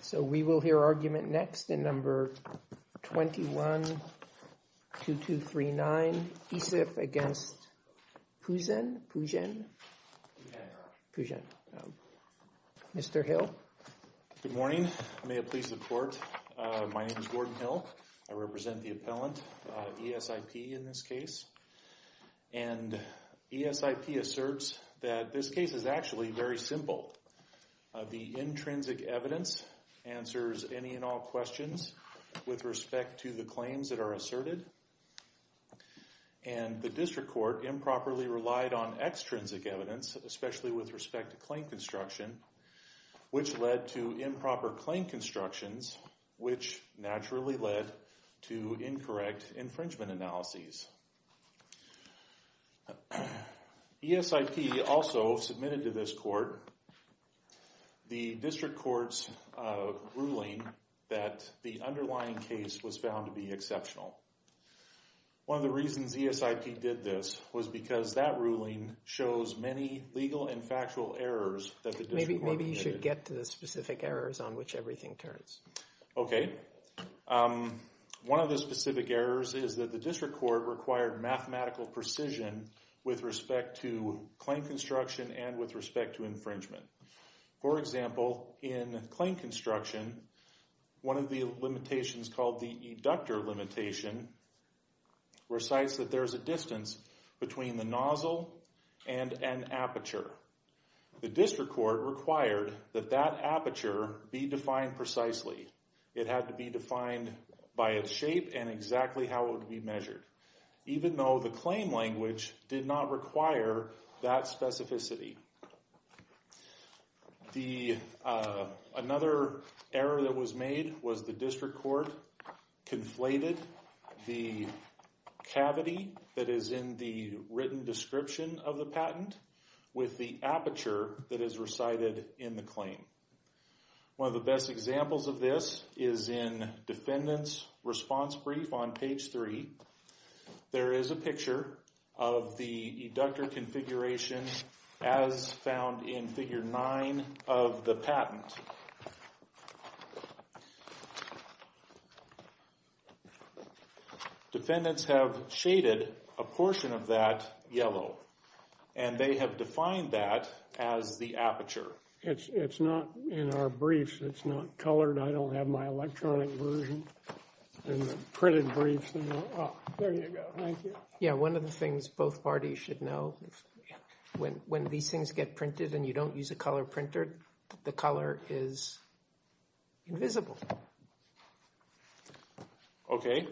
So we will hear argument next in number 21-2239, ESIP against Pujan. Pujan. Pujan. Mr. Hill. Good morning. May it please the court. My name is Gordon Hill. I represent the appellant ESIP in this case. And ESIP asserts that this case is actually very simple. The intrinsic evidence answers any and all questions with respect to the claims that are asserted. And the district court improperly relied on extrinsic evidence, especially with respect to claim construction, which led to improper claim constructions, which naturally led to incorrect infringement analyses. ESIP also submitted to this court the district court's ruling that the underlying case was found to be exceptional. One of the reasons ESIP did this was because that ruling shows many legal and factual errors that the district court committed. Maybe you should get to the specific errors on which everything turns. Okay. One of the specific errors is that the district court required mathematical precision with respect to claim construction and with respect to infringement. For example, in claim construction, one of the limitations called the eductor limitation recites that there is a distance between the nozzle and an aperture. The district court required that that aperture be defined precisely. It had to be defined by its shape and exactly how it would be measured, even though the claim language did not require that specificity. Another error that was made was the district court conflated the cavity that is in the written description of the patent with the aperture that is recited in the claim. One of the best examples of this is in defendant's response brief on page three. There is a picture of the eductor configuration as found in figure nine of the patent. Defendants have shaded a portion of that yellow, and they have defined that as the aperture. It's not in our briefs. It's not colored. I don't have my electronic version. Printed briefs. There you go. Thank you. Yeah, one of the things both parties should know when these things get printed and you don't use a color printer, the color is invisible. Okay.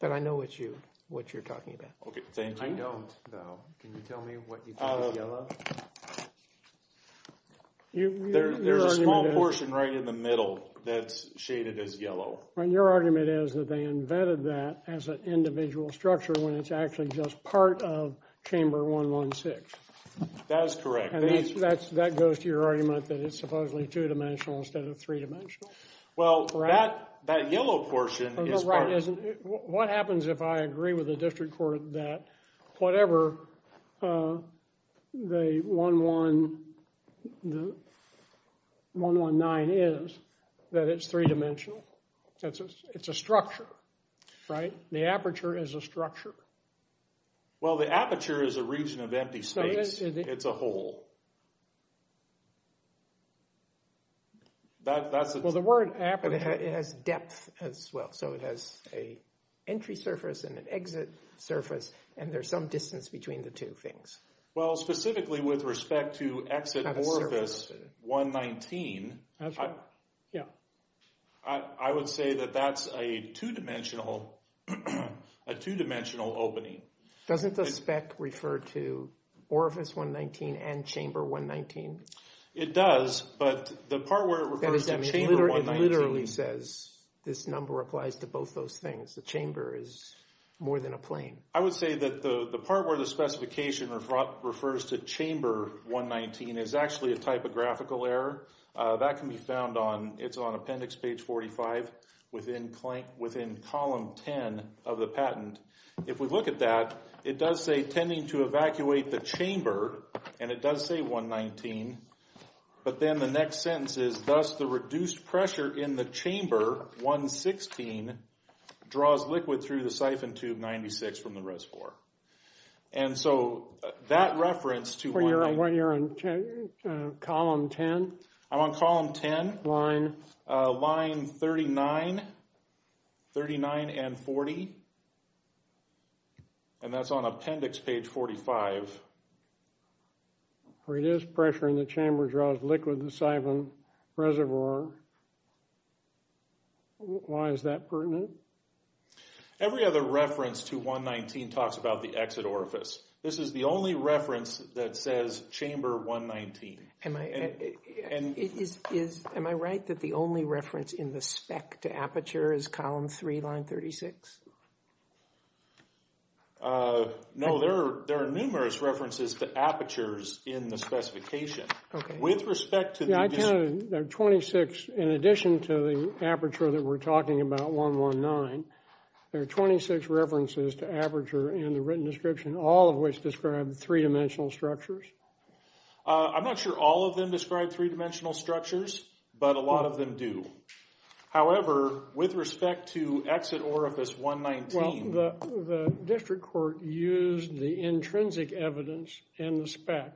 But I know what you what you're talking about. Okay, thank you. I don't, though. Can you tell me what you think is yellow? There's a small portion right in the middle that's shaded as yellow. And your argument is that they invented that as an individual structure when it's actually just part of chamber 116. That is correct. And that goes to your argument that it's supposedly two-dimensional instead of three-dimensional? Well, that yellow portion is part of it. What happens if I agree with the district court that whatever the 119 is, that it's three-dimensional? It's a structure, right? The aperture is a structure. Well, the aperture is a region of empty space. It's a hole. Well, the word aperture has depth as well. So it has an entry surface and an exit surface, and there's some distance between the two things. Well, specifically with respect to exit orifice 119, I would say that that's a two-dimensional opening. Doesn't the spec refer to orifice 119 and chamber 119? It does, but the part where it refers to chamber 119. It literally says this number applies to both those things. The chamber is more than a plane. I would say that the part where the specification refers to chamber 119 is actually a typographical error. That can be found on appendix page 45 within column 10 of the patent. If we look at that, it does say, tending to evacuate the chamber, and it does say 119. But then the next sentence is, thus the reduced pressure in the chamber 116 draws liquid through the siphon tube 96 from the RISC-IV. And so that reference to 119. You're on column 10? I'm on column 10. Line? Line 39, 39 and 40. And that's on appendix page 45. Reduced pressure in the chamber draws liquid through the siphon reservoir. Why is that pertinent? Every other reference to 119 talks about the exit orifice. This is the only reference that says chamber 119. Am I right that the only reference in the spec to aperture is column 3, line 36? No, there are numerous references to apertures in the specification. Okay. With respect to the... Yeah, I counted. There are 26 in addition to the aperture that we're talking about, 119. There are 26 references to aperture in the written description, all of which describe three-dimensional structures. I'm not sure all of them describe three-dimensional structures, but a lot of them do. However, with respect to exit orifice 119... Well, the district court used the intrinsic evidence in the spec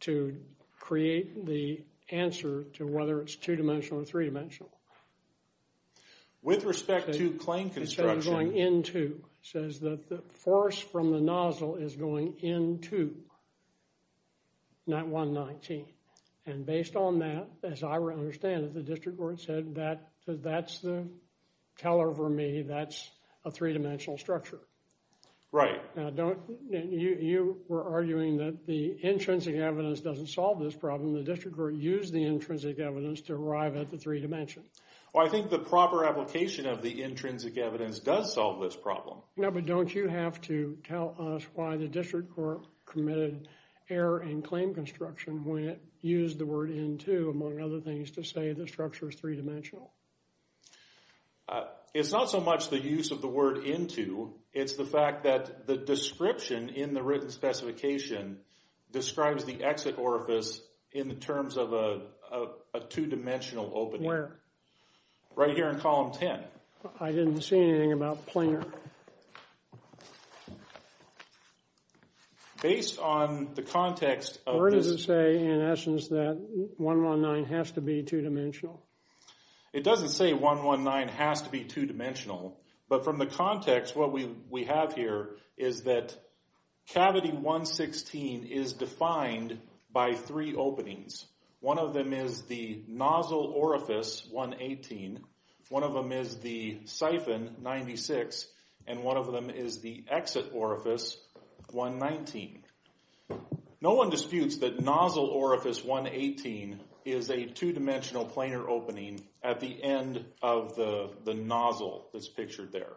to create the answer to whether it's two-dimensional or three-dimensional. With respect to claim construction... ...says that the force from the nozzle is going into 119. And based on that, as I understand it, the district court said that's the teller for me. That's a three-dimensional structure. Right. Now, you were arguing that the intrinsic evidence doesn't solve this problem. The district court used the intrinsic evidence to arrive at the three-dimension. Well, I think the proper application of the intrinsic evidence does solve this problem. No, but don't you have to tell us why the district court committed error in claim construction when it used the word into, among other things, to say the structure is three-dimensional. It's not so much the use of the word into. It's the fact that the description in the written specification describes the exit orifice in terms of a two-dimensional opening. Where? Right here in column 10. I didn't see anything about planar. Based on the context of this... Or does it say, in essence, that 119 has to be two-dimensional? It doesn't say 119 has to be two-dimensional. But from the context, what we have here is that cavity 116 is defined by three openings. One of them is the nozzle orifice 118. One of them is the siphon 96. And one of them is the exit orifice 119. No one disputes that nozzle orifice 118 is a two-dimensional planar opening at the end of the nozzle that's pictured there.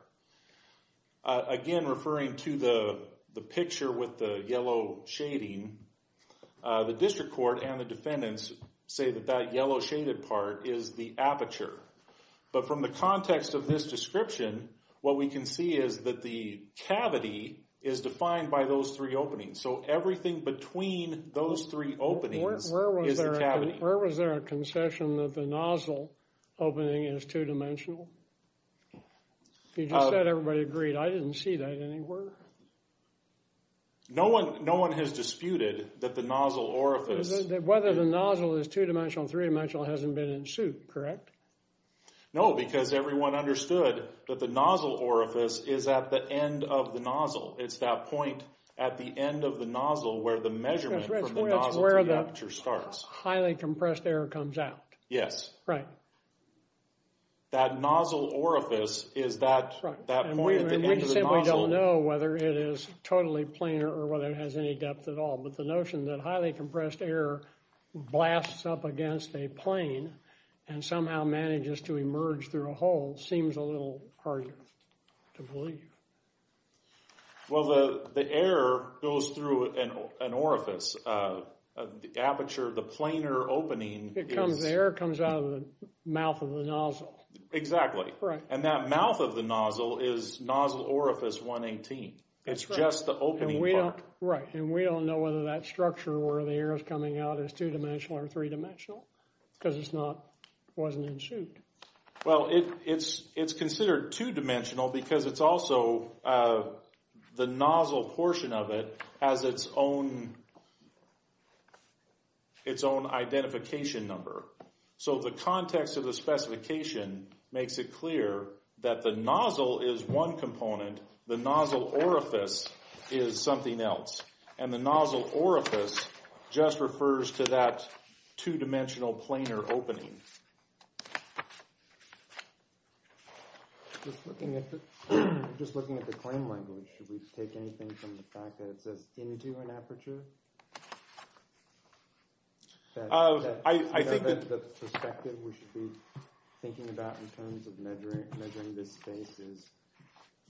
Again, referring to the picture with the yellow shading, the district court and the defendants say that that yellow shaded part is the aperture. But from the context of this description, what we can see is that the cavity is defined by those three openings. So everything between those three openings is the cavity. Where was there a concession that the nozzle opening is two-dimensional? You just said everybody agreed. I didn't see that anywhere. No one has disputed that the nozzle orifice... Whether the nozzle is two-dimensional or three-dimensional hasn't been in suit, correct? No, because everyone understood that the nozzle orifice is at the end of the nozzle. It's that point at the end of the nozzle where the measurement from the nozzle to the aperture starts. That's where the highly compressed air comes out. Yes. Right. That nozzle orifice is that point at the end of the nozzle. We simply don't know whether it is totally planar or whether it has any depth at all. But the notion that highly compressed air blasts up against a plane and somehow manages to emerge through a hole seems a little harder to believe. Well, the air goes through an orifice. The aperture, the planar opening... The air comes out of the mouth of the nozzle. Exactly. That mouth of the nozzle is nozzle orifice 118. It's just the opening part. We don't know whether that structure where the air is coming out is two-dimensional or three-dimensional because it wasn't in suit. Well, it's considered two-dimensional because it's also the nozzle portion of it has its own identification number. So the context of the specification makes it clear that the nozzle is one component. The nozzle orifice is something else. And the nozzle orifice just refers to that two-dimensional planar opening. Just looking at the claim language, should we take anything from the fact that it says into an aperture? I think that the perspective we should be thinking about in terms of measuring this space is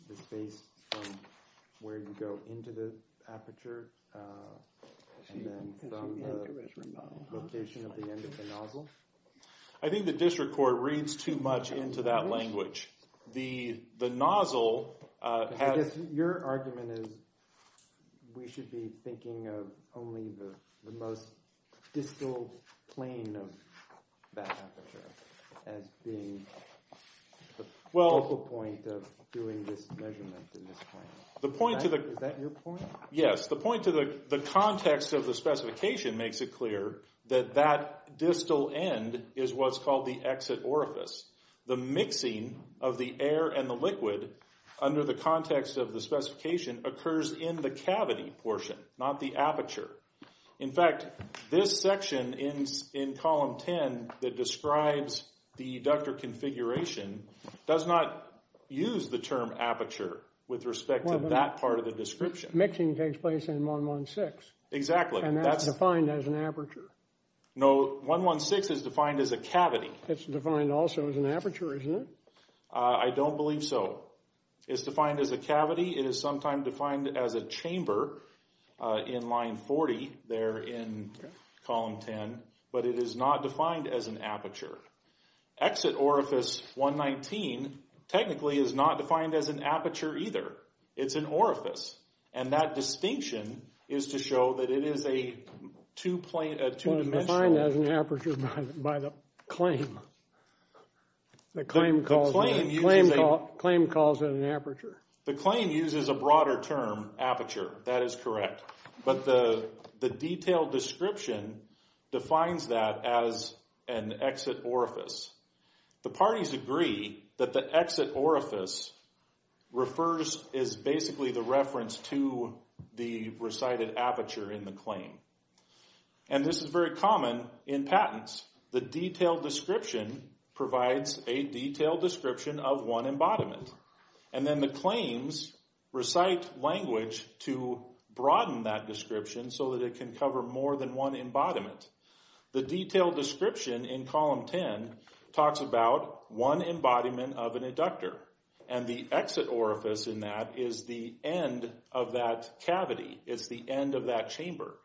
the space from where you go into the aperture and then from the location of the end of the nozzle. I think the district court reads too much into that language. The nozzle... I guess your argument is we should be thinking of only the most distal plane of that aperture as being the focal point of doing this measurement in this plane. Is that your point? Yes, the point to the context of the specification makes it clear that that distal end is what's called the exit orifice. The mixing of the air and the liquid under the context of the specification occurs in the cavity portion, not the aperture. In fact, this section in column 10 that describes the ductor configuration does not use the term aperture with respect to that part of the description. Mixing takes place in 116. Exactly. And that's defined as an aperture. No, 116 is defined as a cavity. It's defined also as an aperture, isn't it? I don't believe so. It's defined as a cavity. It is sometimes defined as a chamber in line 40 there in column 10, but it is not defined as an aperture. Exit orifice 119 technically is not defined as an aperture either. It's an orifice, and that distinction is to show that it is a two-dimensional... The claim uses a broader term, aperture. That is correct. But the detailed description defines that as an exit orifice. The parties agree that the exit orifice is basically the reference to the recited aperture in the claim. And this is very common in patents. The detailed description provides a detailed description of one embodiment. And then the claims recite language to broaden that description so that it can cover more than one embodiment. The detailed description in column 10 talks about one embodiment of an inductor, and the exit orifice in that is the end of that cavity. It's the end of that chamber.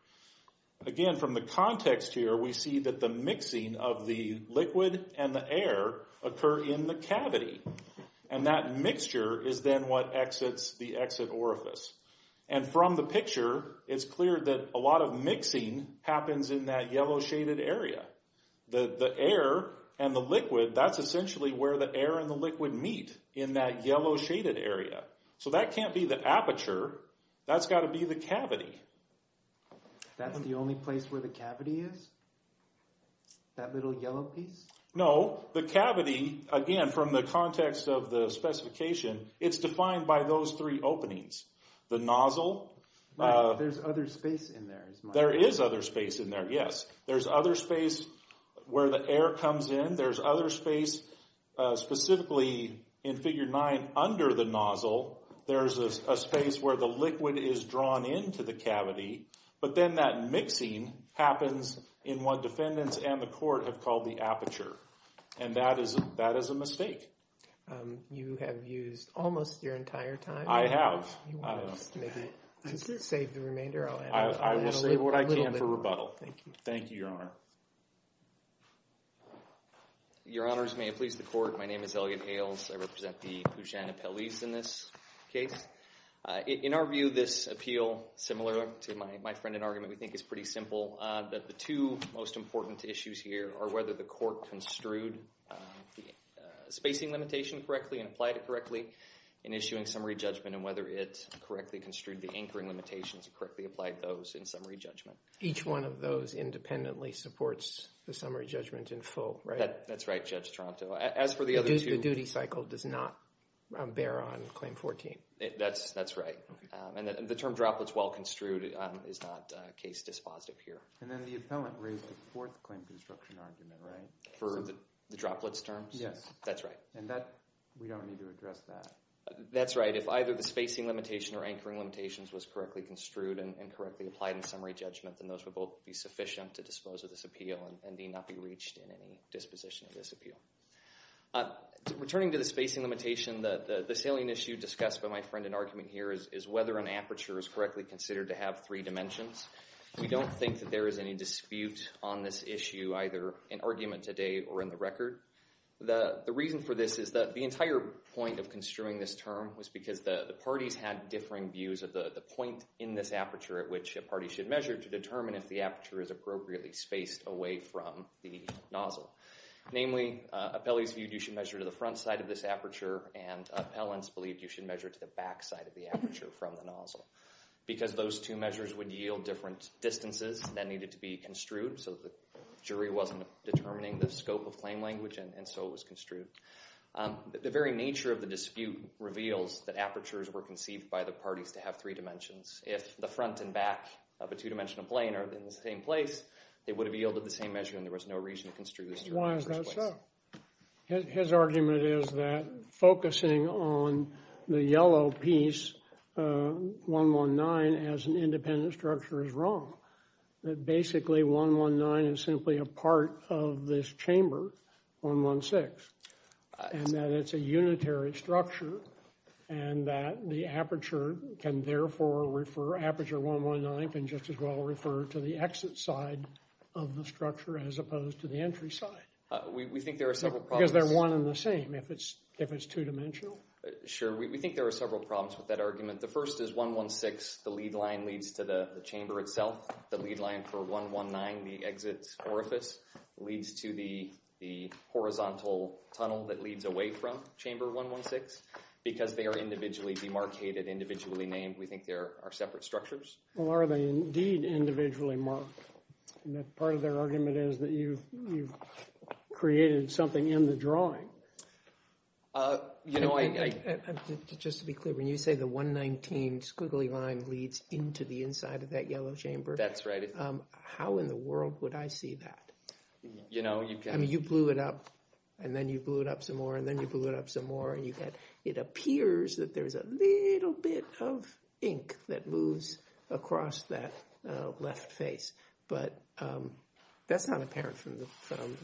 Again, from the context here, we see that the mixing of the liquid and the air occur in the cavity. And that mixture is then what exits the exit orifice. And from the picture, it's clear that a lot of mixing happens in that yellow-shaded area. The air and the liquid, that's essentially where the air and the liquid meet in that yellow-shaded area. So that can't be the aperture. That's got to be the cavity. That's the only place where the cavity is? That little yellow piece? No. The cavity, again, from the context of the specification, it's defined by those three openings. The nozzle. There's other space in there, is my understanding. There is other space in there, yes. There's other space where the air comes in. There's other space, specifically in Figure 9, under the nozzle. There's a space where the liquid is drawn into the cavity. But then that mixing happens in what defendants and the court have called the aperture. And that is a mistake. You have used almost your entire time. I have. Do you want to save the remainder? I will save what I can for rebuttal. Thank you. Thank you, Your Honor. Your Honors, may it please the Court. My name is Elliot Hales. I represent the Puget-Napolese in this case. In our view, this appeal, similar to my friend in argument, we think is pretty simple. The two most important issues here are whether the court construed the spacing limitation correctly and applied it correctly in issuing summary judgment, and whether it correctly construed the anchoring limitations and correctly applied those in summary judgment. Each one of those independently supports the summary judgment in full, right? That's right, Judge Tronto. As for the other two. The duty cycle does not bear on Claim 14. That's right. And the term droplets well construed is not case dispositive here. And then the appellant raised the fourth claim construction argument, right? For the droplets terms? Yes. That's right. And we don't need to address that. That's right. If either the spacing limitation or anchoring limitations was correctly construed and correctly applied in summary judgment, then those would both be sufficient to dispose of this appeal and need not be reached in any disposition of this appeal. Returning to the spacing limitation, the salient issue discussed by my friend in argument here is whether an aperture is correctly considered to have three dimensions. We don't think that there is any dispute on this issue, either in argument today or in the record. The reason for this is that the entire point of construing this term was because the parties had differing views of the point in this aperture at which a party should measure to determine if the aperture is appropriately spaced away from the nozzle. Namely, appellees viewed you should measure to the front side of this aperture and appellants believed you should measure to the back side of the aperture from the nozzle. Because those two measures would yield different distances that needed to be construed so the jury wasn't determining the scope of claim language and so it was construed. The very nature of the dispute reveals that apertures were conceived by the parties to have three dimensions. If the front and back of a two-dimensional plane are in the same place, they would have yielded the same measure and there was no reason to construe this term. Why is that so? His argument is that focusing on the yellow piece, 119, as an independent structure is wrong. That basically 119 is simply a part of this chamber, 116, and that it's a unitary structure and that the aperture can therefore refer, aperture 119 can just as well refer to the exit side of the structure as opposed to the entry side. We think there are several problems. Because they're one and the same if it's two-dimensional. Sure, we think there are several problems with that argument. The first is 116, the lead line leads to the chamber itself. The lead line for 119, the exit orifice, leads to the horizontal tunnel that leads away from chamber 116. Because they are individually demarcated, individually named, we think there are separate structures. Are they indeed individually marked? Part of their argument is that you've created something in the drawing. Just to be clear, when you say the 119 squiggly line leads into the inside of that yellow chamber, how in the world would I see that? You blew it up, and then you blew it up some more, and then you blew it up some more, and it appears that there's a little bit of ink that moves across that left face. But that's not apparent from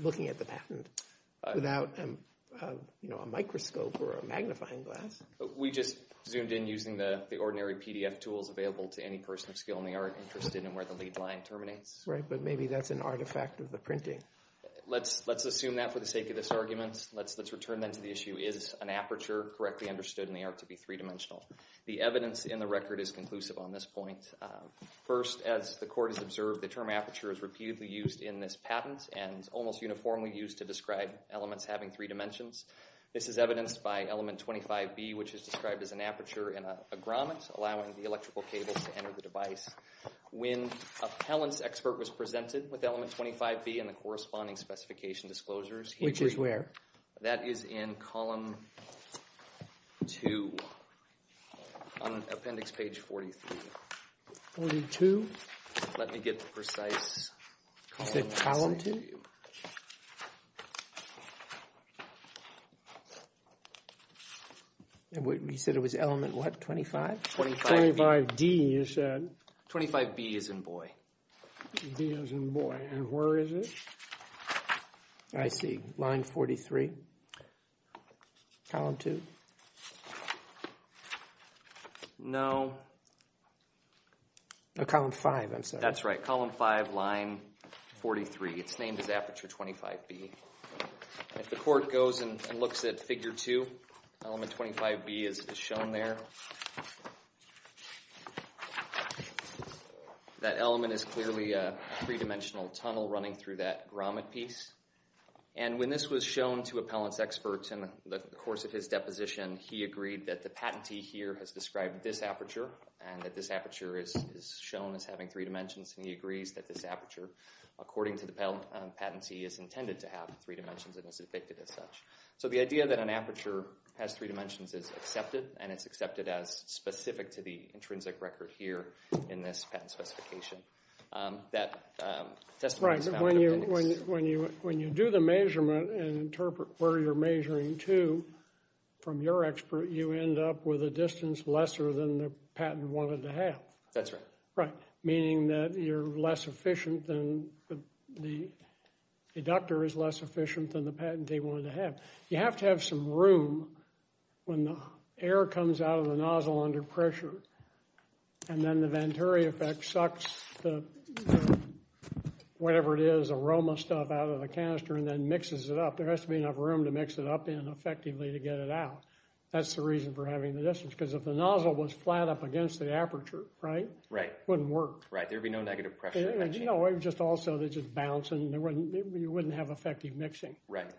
looking at the patent without a microscope or a magnifying glass. We just zoomed in using the ordinary PDF tools available to any person of skill in the art interested in where the lead line terminates. Right, but maybe that's an artifact of the printing. Let's assume that for the sake of this argument. Let's return then to the issue, is an aperture correctly understood in the art to be three-dimensional? The evidence in the record is conclusive on this point. First, as the Court has observed, the term aperture is repeatedly used in this patent and almost uniformly used to describe elements having three dimensions. This is evidenced by element 25B, which is described as an aperture in a grommet, allowing the electrical cables to enter the device. When a pellance expert was presented with element 25B and the corresponding specification disclosures— Which is where? That is in column 2 on appendix page 43. 42? Let me get the precise— You said column 2? You said it was element what, 25? 25B. You said? 25B as in boy. B as in boy, and where is it? I see, line 43, column 2. No. No, column 5, I'm sorry. That's right, column 5, line 43. It's named as aperture 25B. If the Court goes and looks at figure 2, element 25B is shown there. That element is clearly a three-dimensional tunnel running through that grommet piece. And when this was shown to a pellance expert in the course of his deposition, he agreed that the patentee here has described this aperture and that this aperture is shown as having three dimensions, and he agrees that this aperture, according to the patentee, is intended to have three dimensions and is depicted as such. So the idea that an aperture has three dimensions is accepted, and it's accepted as specific to the intrinsic record here in this patent specification. That testimony is found in the mix. Right, but when you do the measurement and interpret where you're measuring to from your expert, you end up with a distance lesser than the patent wanted to have. That's right. Right, meaning that you're less efficient than the deductor is less efficient than the patentee wanted to have. You have to have some room when the air comes out of the nozzle under pressure, and then the Venturi effect sucks the, whatever it is, aroma stuff out of the canister and then mixes it up. There has to be enough room to mix it up in effectively to get it out. That's the reason for having the distance, because if the nozzle was flat up against the aperture, right? Right. It wouldn't work. Right, there'd be no negative pressure. You know, it would just also, it would just bounce, and you wouldn't have effective mixing. Right.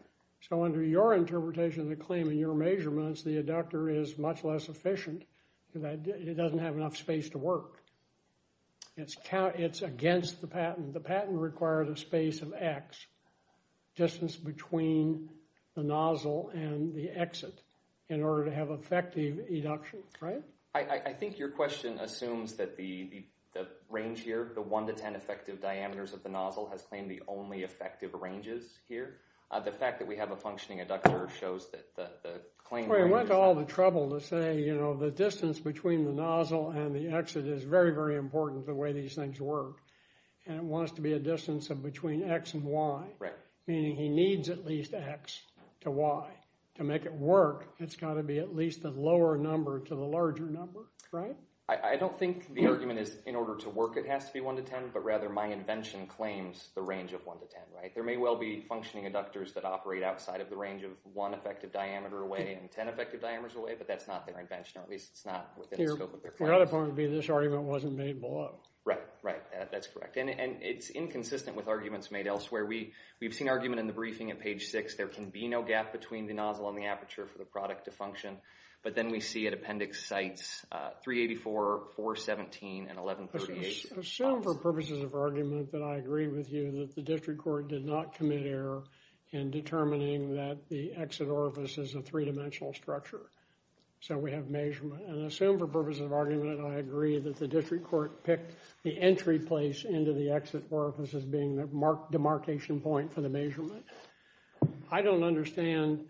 So under your interpretation of the claim and your measurements, the deductor is much less efficient. It doesn't have enough space to work. It's against the patent. The patent requires a space of X, distance between the nozzle and the exit, in order to have effective eduction, right? I think your question assumes that the range here, the 1 to 10 effective diameters of the nozzle, has claimed the only effective ranges here. The fact that we have a functioning deductor shows that the claim— Well, we went to all the trouble to say, you know, the distance between the nozzle and the exit is very, very important, the way these things work, and it wants to be a distance of between X and Y. Right. Meaning he needs at least X to Y. To make it work, it's got to be at least a lower number to the larger number, right? I don't think the argument is in order to work it has to be 1 to 10, but rather my invention claims the range of 1 to 10, right? There may well be functioning deductors that operate outside of the range of 1 effective diameter away and 10 effective diameters away, but that's not their invention, or at least it's not within the scope of their claim. The other point would be this argument wasn't made below it. Right, right. That's correct. And it's inconsistent with arguments made elsewhere. We've seen argument in the briefing at page 6. There can be no gap between the nozzle and the aperture for the product to function, but then we see at appendix sites 384, 417, and 1138. Assume for purposes of argument that I agree with you that the district court did not commit error in determining that the exit orifice is a three-dimensional structure, so we have measurement. And assume for purposes of argument that I agree that the district court picked the entry place into the exit orifice as being the demarcation point for the measurement. I don't understand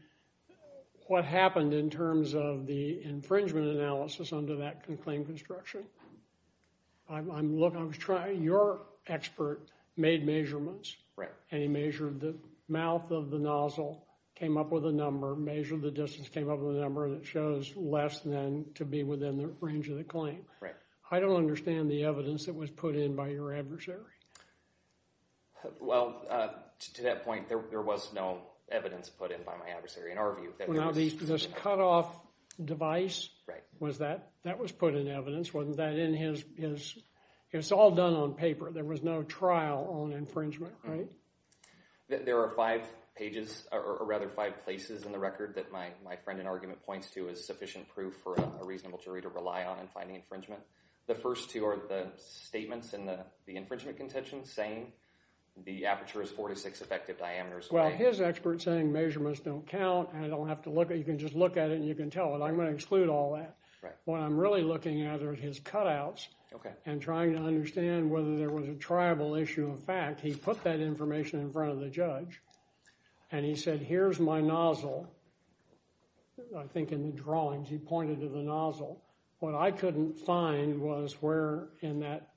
what happened in terms of the infringement analysis under that claim construction. Your expert made measurements, and he measured the mouth of the nozzle, came up with a number, measured the distance, came up with a number that shows less than to be within the range of the claim. I don't understand the evidence that was put in by your adversary. Well, to that point, there was no evidence put in by my adversary in our view. Now, this cutoff device, that was put in evidence. Wasn't that in his – it's all done on paper. There was no trial on infringement, right? There are five pages, or rather five places in the record that my friend in argument points to as sufficient proof for a reasonable jury to rely on in finding infringement. The first two are the statements in the infringement contention saying the aperture is 46 effective diameters. Well, his expert's saying measurements don't count, and I don't have to look at it. You can just look at it, and you can tell it. I'm going to exclude all that. Right. What I'm really looking at are his cutouts. Okay. And trying to understand whether there was a triable issue of fact. He put that information in front of the judge, and he said, here's my nozzle. I think in the drawings, he pointed to the nozzle. What I couldn't find was where in that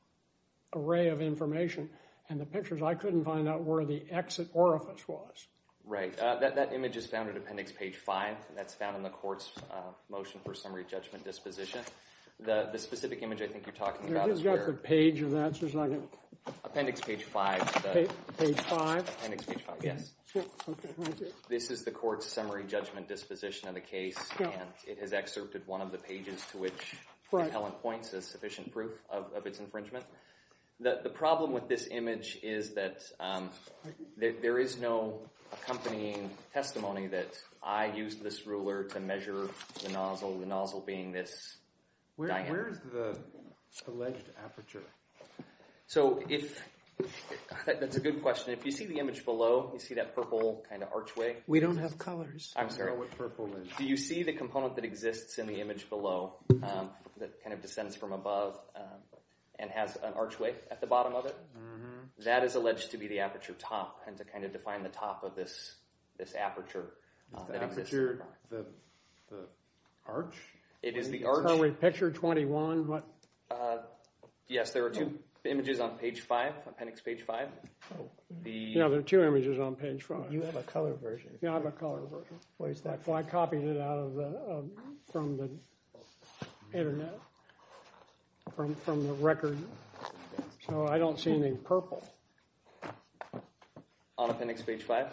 array of information and the pictures, I couldn't find out where the exit orifice was. Right. That image is found at Appendix Page 5. That's found in the court's motion for summary judgment disposition. The specific image I think you're talking about is where – You've got the page of that. Just a second. Appendix Page 5. Page 5? Appendix Page 5, yes. Okay, thank you. This is the court's summary judgment disposition of the case, and it has excerpted one of the pages to which the appellant points as sufficient proof of its infringement. The problem with this image is that there is no accompanying testimony that I used this ruler to measure the nozzle, the nozzle being this diameter. Where is the alleged aperture? That's a good question. If you see the image below, you see that purple kind of archway? We don't have colors. I'm sorry. I don't know what purple is. Do you see the component that exists in the image below that kind of descends from above and has an archway at the bottom of it? That is alleged to be the aperture top and to kind of define the top of this aperture that exists. Is the aperture the arch? It is the arch. Summary picture 21. Yes, there are two images on Page 5, Appendix Page 5. There are two images on Page 5. You have a color version. I copied it out from the Internet, from the record, so I don't see any purple. On Appendix Page 5?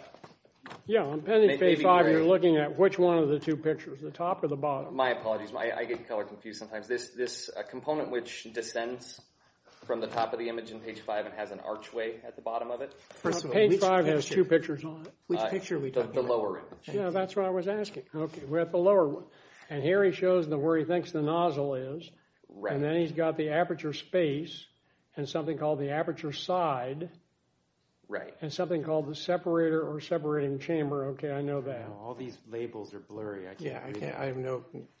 Yes, on Appendix Page 5 you're looking at which one of the two pictures, the top or the bottom? My apologies. I get color confused sometimes. This component which descends from the top of the image on Page 5 and has an archway at the bottom of it? Page 5 has two pictures on it. Which picture are we talking about? The lower image. Yeah, that's what I was asking. Okay, we're at the lower one. And here he shows where he thinks the nozzle is. And then he's got the aperture space and something called the aperture side and something called the separator or separating chamber. Okay, I know that. All these labels are blurry. I can't read them.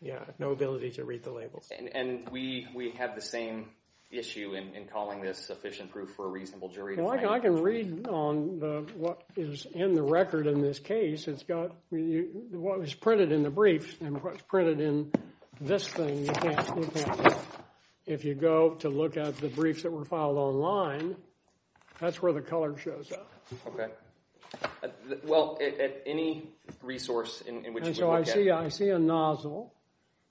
Yeah, I have no ability to read the labels. And we have the same issue in calling this sufficient proof for a reasonable jury. I can read on what is in the record in this case. It's got what was printed in the brief and what's printed in this thing you can't look at. If you go to look at the briefs that were filed online, that's where the color shows up. Okay. Well, at any resource in which we look at. And so I see a nozzle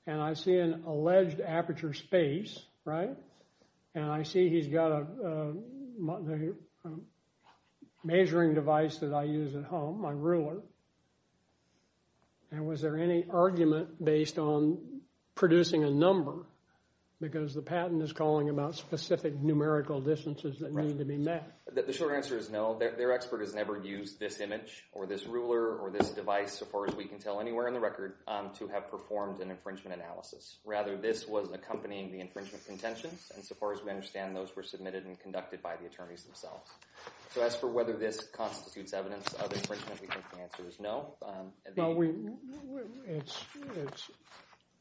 and I see an alleged aperture space, right? And I see he's got a measuring device that I use at home, my ruler. And was there any argument based on producing a number because the patent is calling about specific numerical distances that need to be met? The short answer is no. Their expert has never used this image or this ruler or this device so far as we can tell anywhere in the record to have performed an infringement analysis. Rather, this was accompanying the infringement contentions. And so far as we understand, those were submitted and conducted by the attorneys themselves. So as for whether this constitutes evidence of infringement, we think the answer is no. Well, it's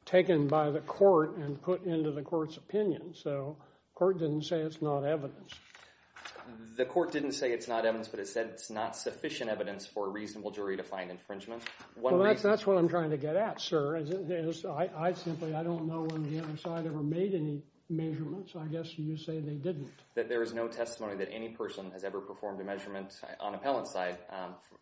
taken by the court and put into the court's opinion. So the court didn't say it's not evidence. The court didn't say it's not evidence, but it said it's not sufficient evidence for a reasonable jury to find infringement. Well, that's what I'm trying to get at, sir. I simply don't know when the other side ever made any measurements. I guess you say they didn't. There is no testimony that any person has ever performed a measurement on appellant's side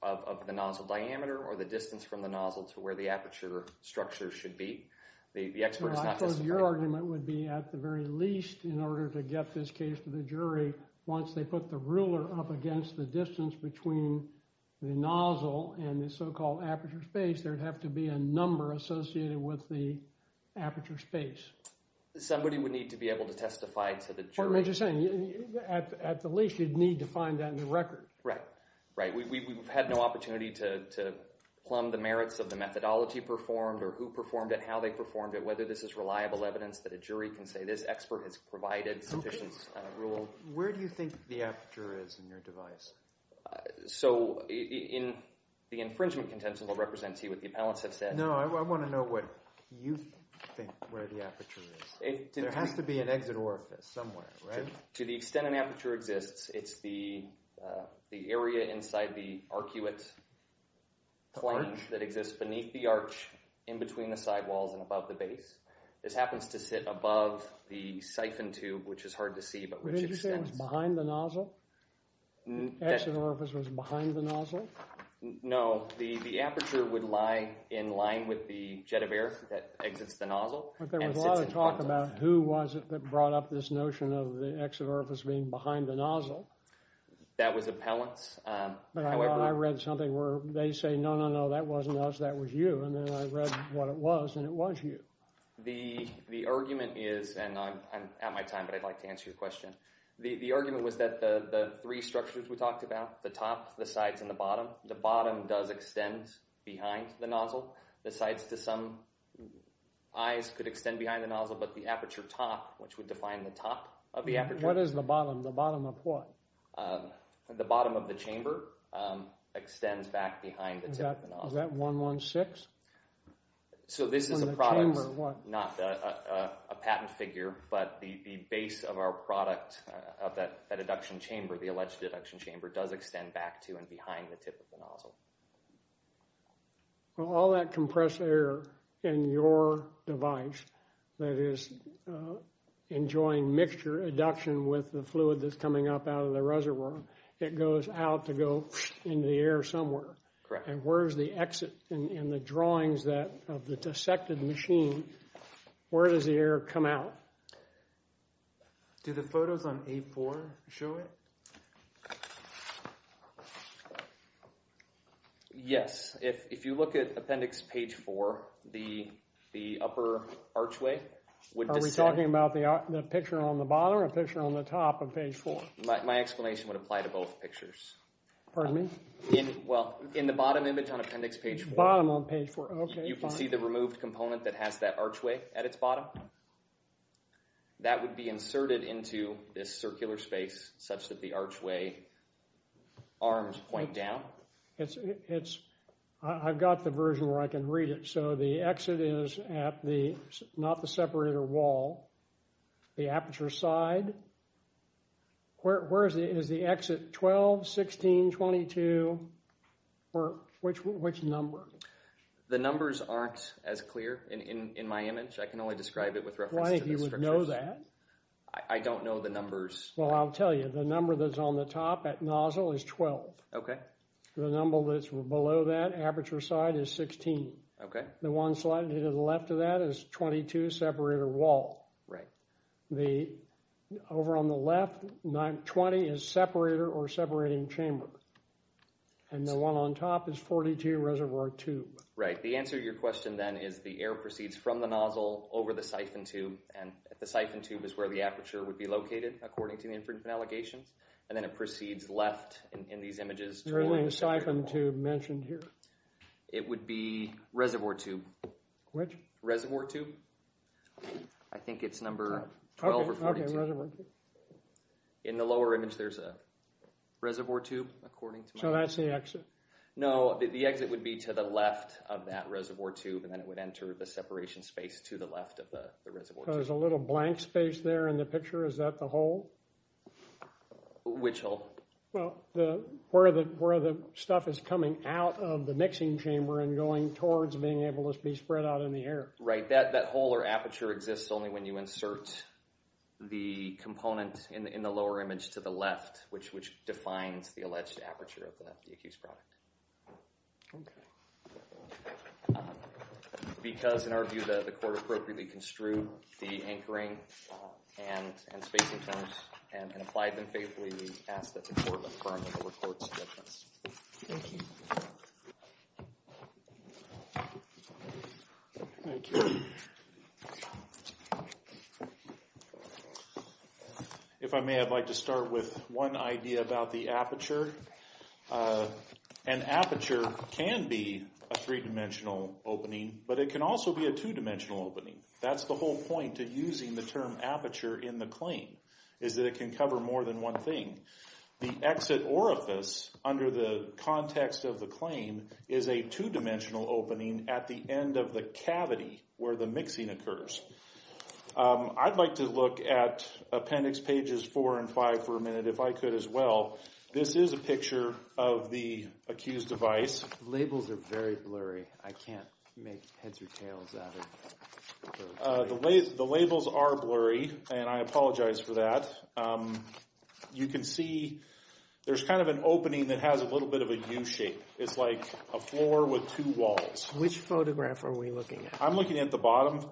of the nozzle diameter or the distance from the nozzle to where the aperture structure should be. The expert has not testified. Well, I suppose your argument would be at the very least in order to get this case to the jury. Once they put the ruler up against the distance between the nozzle and the so-called aperture space, there would have to be a number associated with the aperture space. Somebody would need to be able to testify to the jury. What I'm just saying, at the least you'd need to find that in the record. Right. We've had no opportunity to plumb the merits of the methodology performed or who performed it, how they performed it, whether this is reliable evidence that a jury can say this expert has provided sufficient rule. Where do you think the aperture is in your device? So, the infringement contention will represent to you what the appellants have said. No, I want to know what you think where the aperture is. There has to be an exit orifice somewhere, right? To the extent an aperture exists, it's the area inside the arcuate flange that exists beneath the arch in between the sidewalls and above the base. This happens to sit above the siphon tube, which is hard to see, but which extends… The exit orifice was behind the nozzle? No, the aperture would lie in line with the jet of air that exits the nozzle. But there was a lot of talk about who was it that brought up this notion of the exit orifice being behind the nozzle. That was appellants. I read something where they say, no, no, no, that wasn't us, that was you. And then I read what it was, and it was you. The argument is, and I'm out of my time, but I'd like to answer your question. The argument was that the three structures we talked about, the top, the sides, and the bottom, the bottom does extend behind the nozzle. The sides to some eyes could extend behind the nozzle, but the aperture top, which would define the top of the aperture… What is the bottom? The bottom of what? The bottom of the chamber extends back behind the tip of the nozzle. Is that 116? So this is a product, not a patent figure, but the base of our product, of that adduction chamber, the alleged adduction chamber, does extend back to and behind the tip of the nozzle. Well, all that compressed air in your device that is enjoying mixture adduction with the fluid that's coming up out of the reservoir, it goes out to go into the air somewhere. Correct. And where is the exit in the drawings of the dissected machine? Where does the air come out? Do the photos on A4 show it? Yes. If you look at appendix page 4, the upper archway would descend… Are we talking about the picture on the bottom or the picture on the top of page 4? My explanation would apply to both pictures. Pardon me? Well, in the bottom image on appendix page 4… Bottom on page 4. Okay, fine. You can see the removed component that has that archway at its bottom. That would be inserted into this circular space such that the archway arms point down. I've got the version where I can read it. So the exit is at the, not the separator wall, the aperture side. Where is it? Is the exit 12, 16, 22, or which number? The numbers aren't as clear in my image. I can only describe it with reference to the structure. I don't think you would know that. I don't know the numbers. Well, I'll tell you. The number that's on the top at nozzle is 12. Okay. The number that's below that aperture side is 16. Okay. The one slightly to the left of that is 22 separator wall. Right. Over on the left, 20 is separator or separating chamber. And the one on top is 42 reservoir tube. Right. The answer to your question then is the air proceeds from the nozzle over the siphon tube, and the siphon tube is where the aperture would be located, according to the infringement allegations. And then it proceeds left in these images. There isn't a siphon tube mentioned here. It would be reservoir tube. Which? Reservoir tube. I think it's number 12 or 42. Okay, reservoir tube. In the lower image, there's a reservoir tube, according to my image. So that's the exit. No, the exit would be to the left of that reservoir tube, and then it would enter the separation space to the left of the reservoir tube. There's a little blank space there in the picture. Is that the hole? Which hole? Well, where the stuff is coming out of the mixing chamber and going towards being able to be spread out in the air. Right, that hole or aperture exists only when you insert the component in the lower image to the left, which defines the alleged aperture of the accused product. Okay. Because, in our view, the court appropriately construed the anchoring and spacing terms and applied them faithfully, we ask that the court affirm the court's judgments. Thank you. Thank you. If I may, I'd like to start with one idea about the aperture. An aperture can be a three-dimensional opening, but it can also be a two-dimensional opening. That's the whole point to using the term aperture in the claim, is that it can cover more than one thing. The exit orifice, under the context of the claim, is a two-dimensional opening at the end of the cavity where the mixing occurs. I'd like to look at appendix pages four and five for a minute if I could as well. This is a picture of the accused device. The labels are very blurry. I can't make heads or tails out of those. The labels are blurry, and I apologize for that. You can see there's kind of an opening that has a little bit of a U shape. It's like a floor with two walls. Which photograph are we looking at? I'm looking at the bottom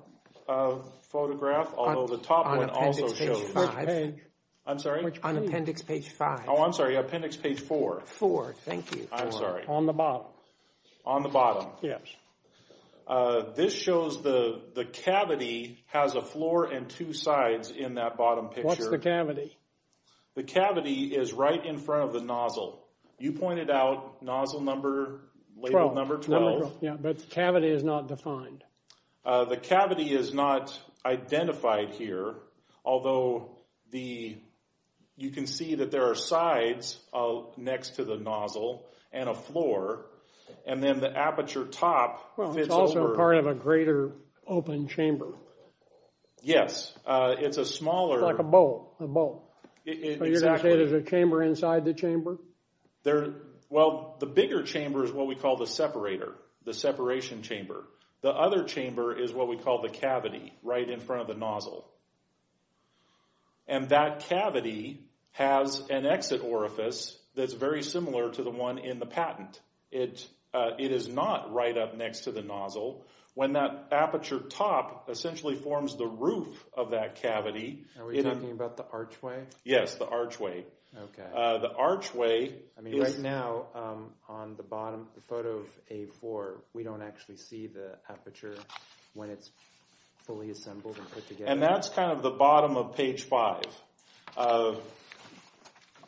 photograph, although the top one also shows. On appendix page five. I'm sorry? On appendix page five. Oh, I'm sorry, appendix page four. Four, thank you. I'm sorry. On the bottom. On the bottom. Yes. This shows the cavity has a floor and two sides in that bottom picture. Where's the cavity? The cavity is right in front of the nozzle. You pointed out nozzle number, label number 12. Yeah, but the cavity is not defined. The cavity is not identified here, although you can see that there are sides next to the nozzle and a floor, and then the aperture top fits over. Well, it's also part of a greater open chamber. Yes, it's a smaller. It's like a bowl, a bowl. Exactly. So you're going to say there's a chamber inside the chamber? Well, the bigger chamber is what we call the separator, the separation chamber. The other chamber is what we call the cavity right in front of the nozzle, and that cavity has an exit orifice that's very similar to the one in the patent. It is not right up next to the nozzle. When that aperture top essentially forms the roof of that cavity. Are we talking about the archway? Yes, the archway. Okay. The archway. I mean, right now on the bottom photo of A4, we don't actually see the aperture when it's fully assembled and put together. And that's kind of the bottom of page 5.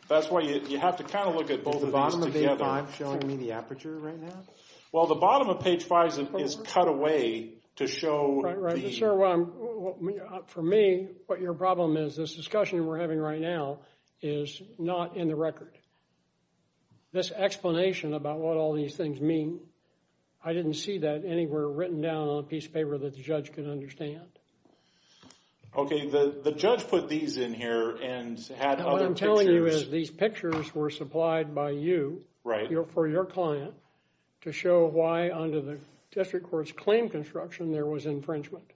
That's why you have to kind of look at both of these together. Is the bottom of page 5 showing me the aperture right now? Well, the bottom of page 5 is cut away to show the… Right, right. But, sir, for me, what your problem is, this discussion we're having right now is not in the record. This explanation about what all these things mean, I didn't see that anywhere written down on a piece of paper that the judge could understand. Okay. The judge put these in here and had other pictures. These pictures were supplied by you for your client to show why under the district court's claim construction there was infringement.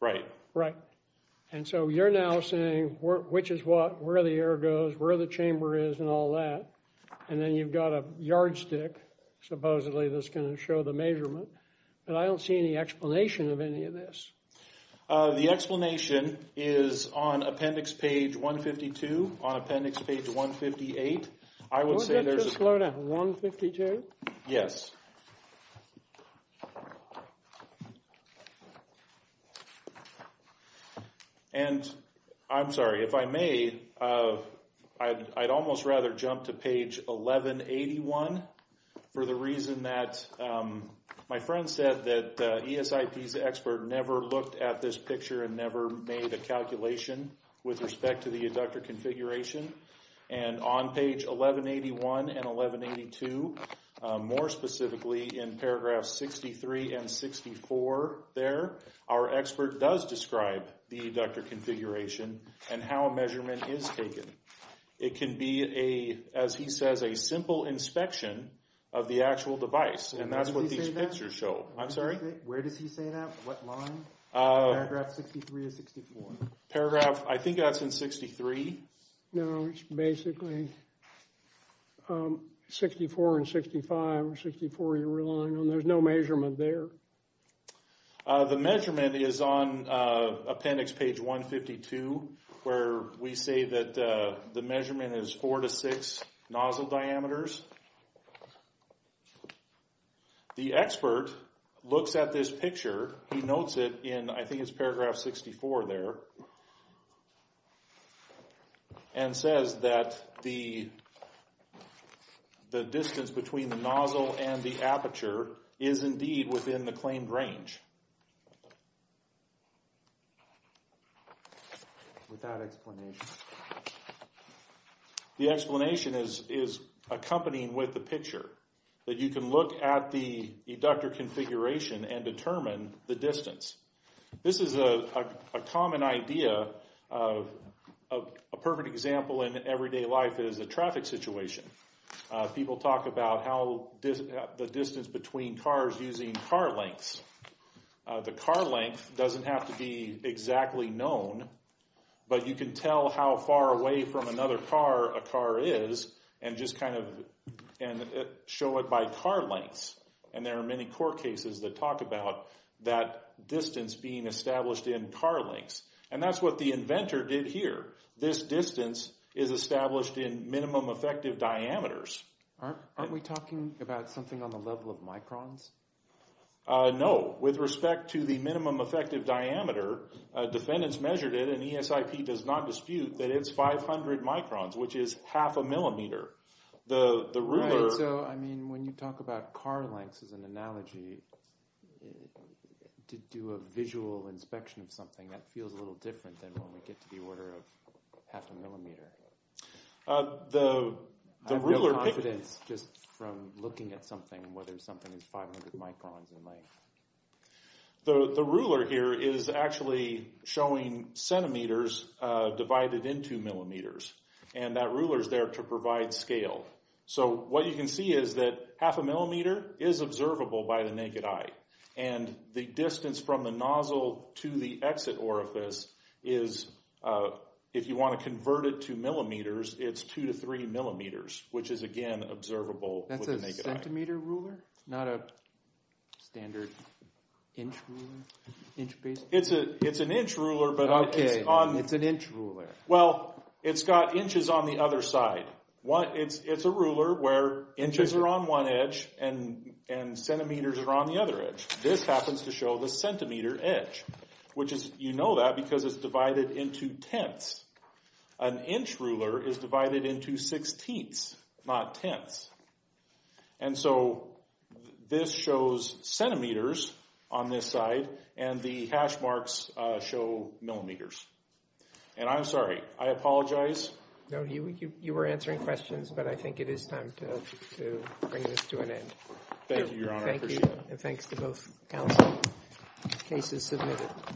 Right. Right. And so you're now saying which is what, where the air goes, where the chamber is, and all that. And then you've got a yardstick, supposedly, that's going to show the measurement. But I don't see any explanation of any of this. The explanation is on appendix page 152, on appendix page 158. I would say there's a… Would that just go to 152? Yes. And I'm sorry, if I may, I'd almost rather jump to page 1181 for the reason that my friend said that ESIP's expert never looked at this picture and never made a calculation with respect to the adductor configuration. And on page 1181 and 1182, more specifically in paragraphs 63 and 64 there, our expert does describe the adductor configuration and how a measurement is taken. It can be, as he says, a simple inspection of the actual device. And that's what these pictures show. I'm sorry? Where does he say that? What line? Paragraph 63 or 64. Paragraph, I think that's in 63. No, it's basically 64 and 65, or 64 you're relying on. There's no measurement there. The measurement is on appendix page 152, where we say that the measurement is 4 to 6 nozzle diameters. The expert looks at this picture. He notes it in, I think it's paragraph 64 there, and says that the distance between the nozzle and the aperture is indeed within the claimed range. Without explanation. The explanation is accompanying with the picture, that you can look at the adductor configuration and determine the distance. This is a common idea of a perfect example in everyday life is a traffic situation. People talk about how the distance between cars using car lengths. The car length doesn't have to be exactly known, but you can tell how far away from another car a car is and show it by car lengths. There are many court cases that talk about that distance being established in car lengths. That's what the inventor did here. This distance is established in minimum effective diameters. Aren't we talking about something on the level of microns? No. With respect to the minimum effective diameter, defendants measured it and ESIP does not dispute that it's 500 microns, which is half a millimeter. When you talk about car lengths as an analogy, to do a visual inspection of something, that feels a little different than when we get to the order of half a millimeter. I have no confidence just from looking at something, whether something is 500 microns in length. The ruler here is actually showing centimeters divided into millimeters. That ruler is there to provide scale. What you can see is that half a millimeter is observable by the naked eye. The distance from the nozzle to the exit orifice is, if you want to convert it to millimeters, it's 2-3 millimeters, which is again observable with the naked eye. That's a centimeter ruler, not a standard inch ruler? It's an inch ruler, but it's got inches on the other side. It's a ruler where inches are on one edge and centimeters are on the other edge. This happens to show the centimeter edge. You know that because it's divided into tenths. An inch ruler is divided into sixteenths, not tenths. This shows centimeters on this side, and the hash marks show millimeters. I'm sorry. I apologize. No, you were answering questions, but I think it is time to bring this to an end. Thank you, Your Honor. I appreciate it. And thanks to both counsel. Case is submitted.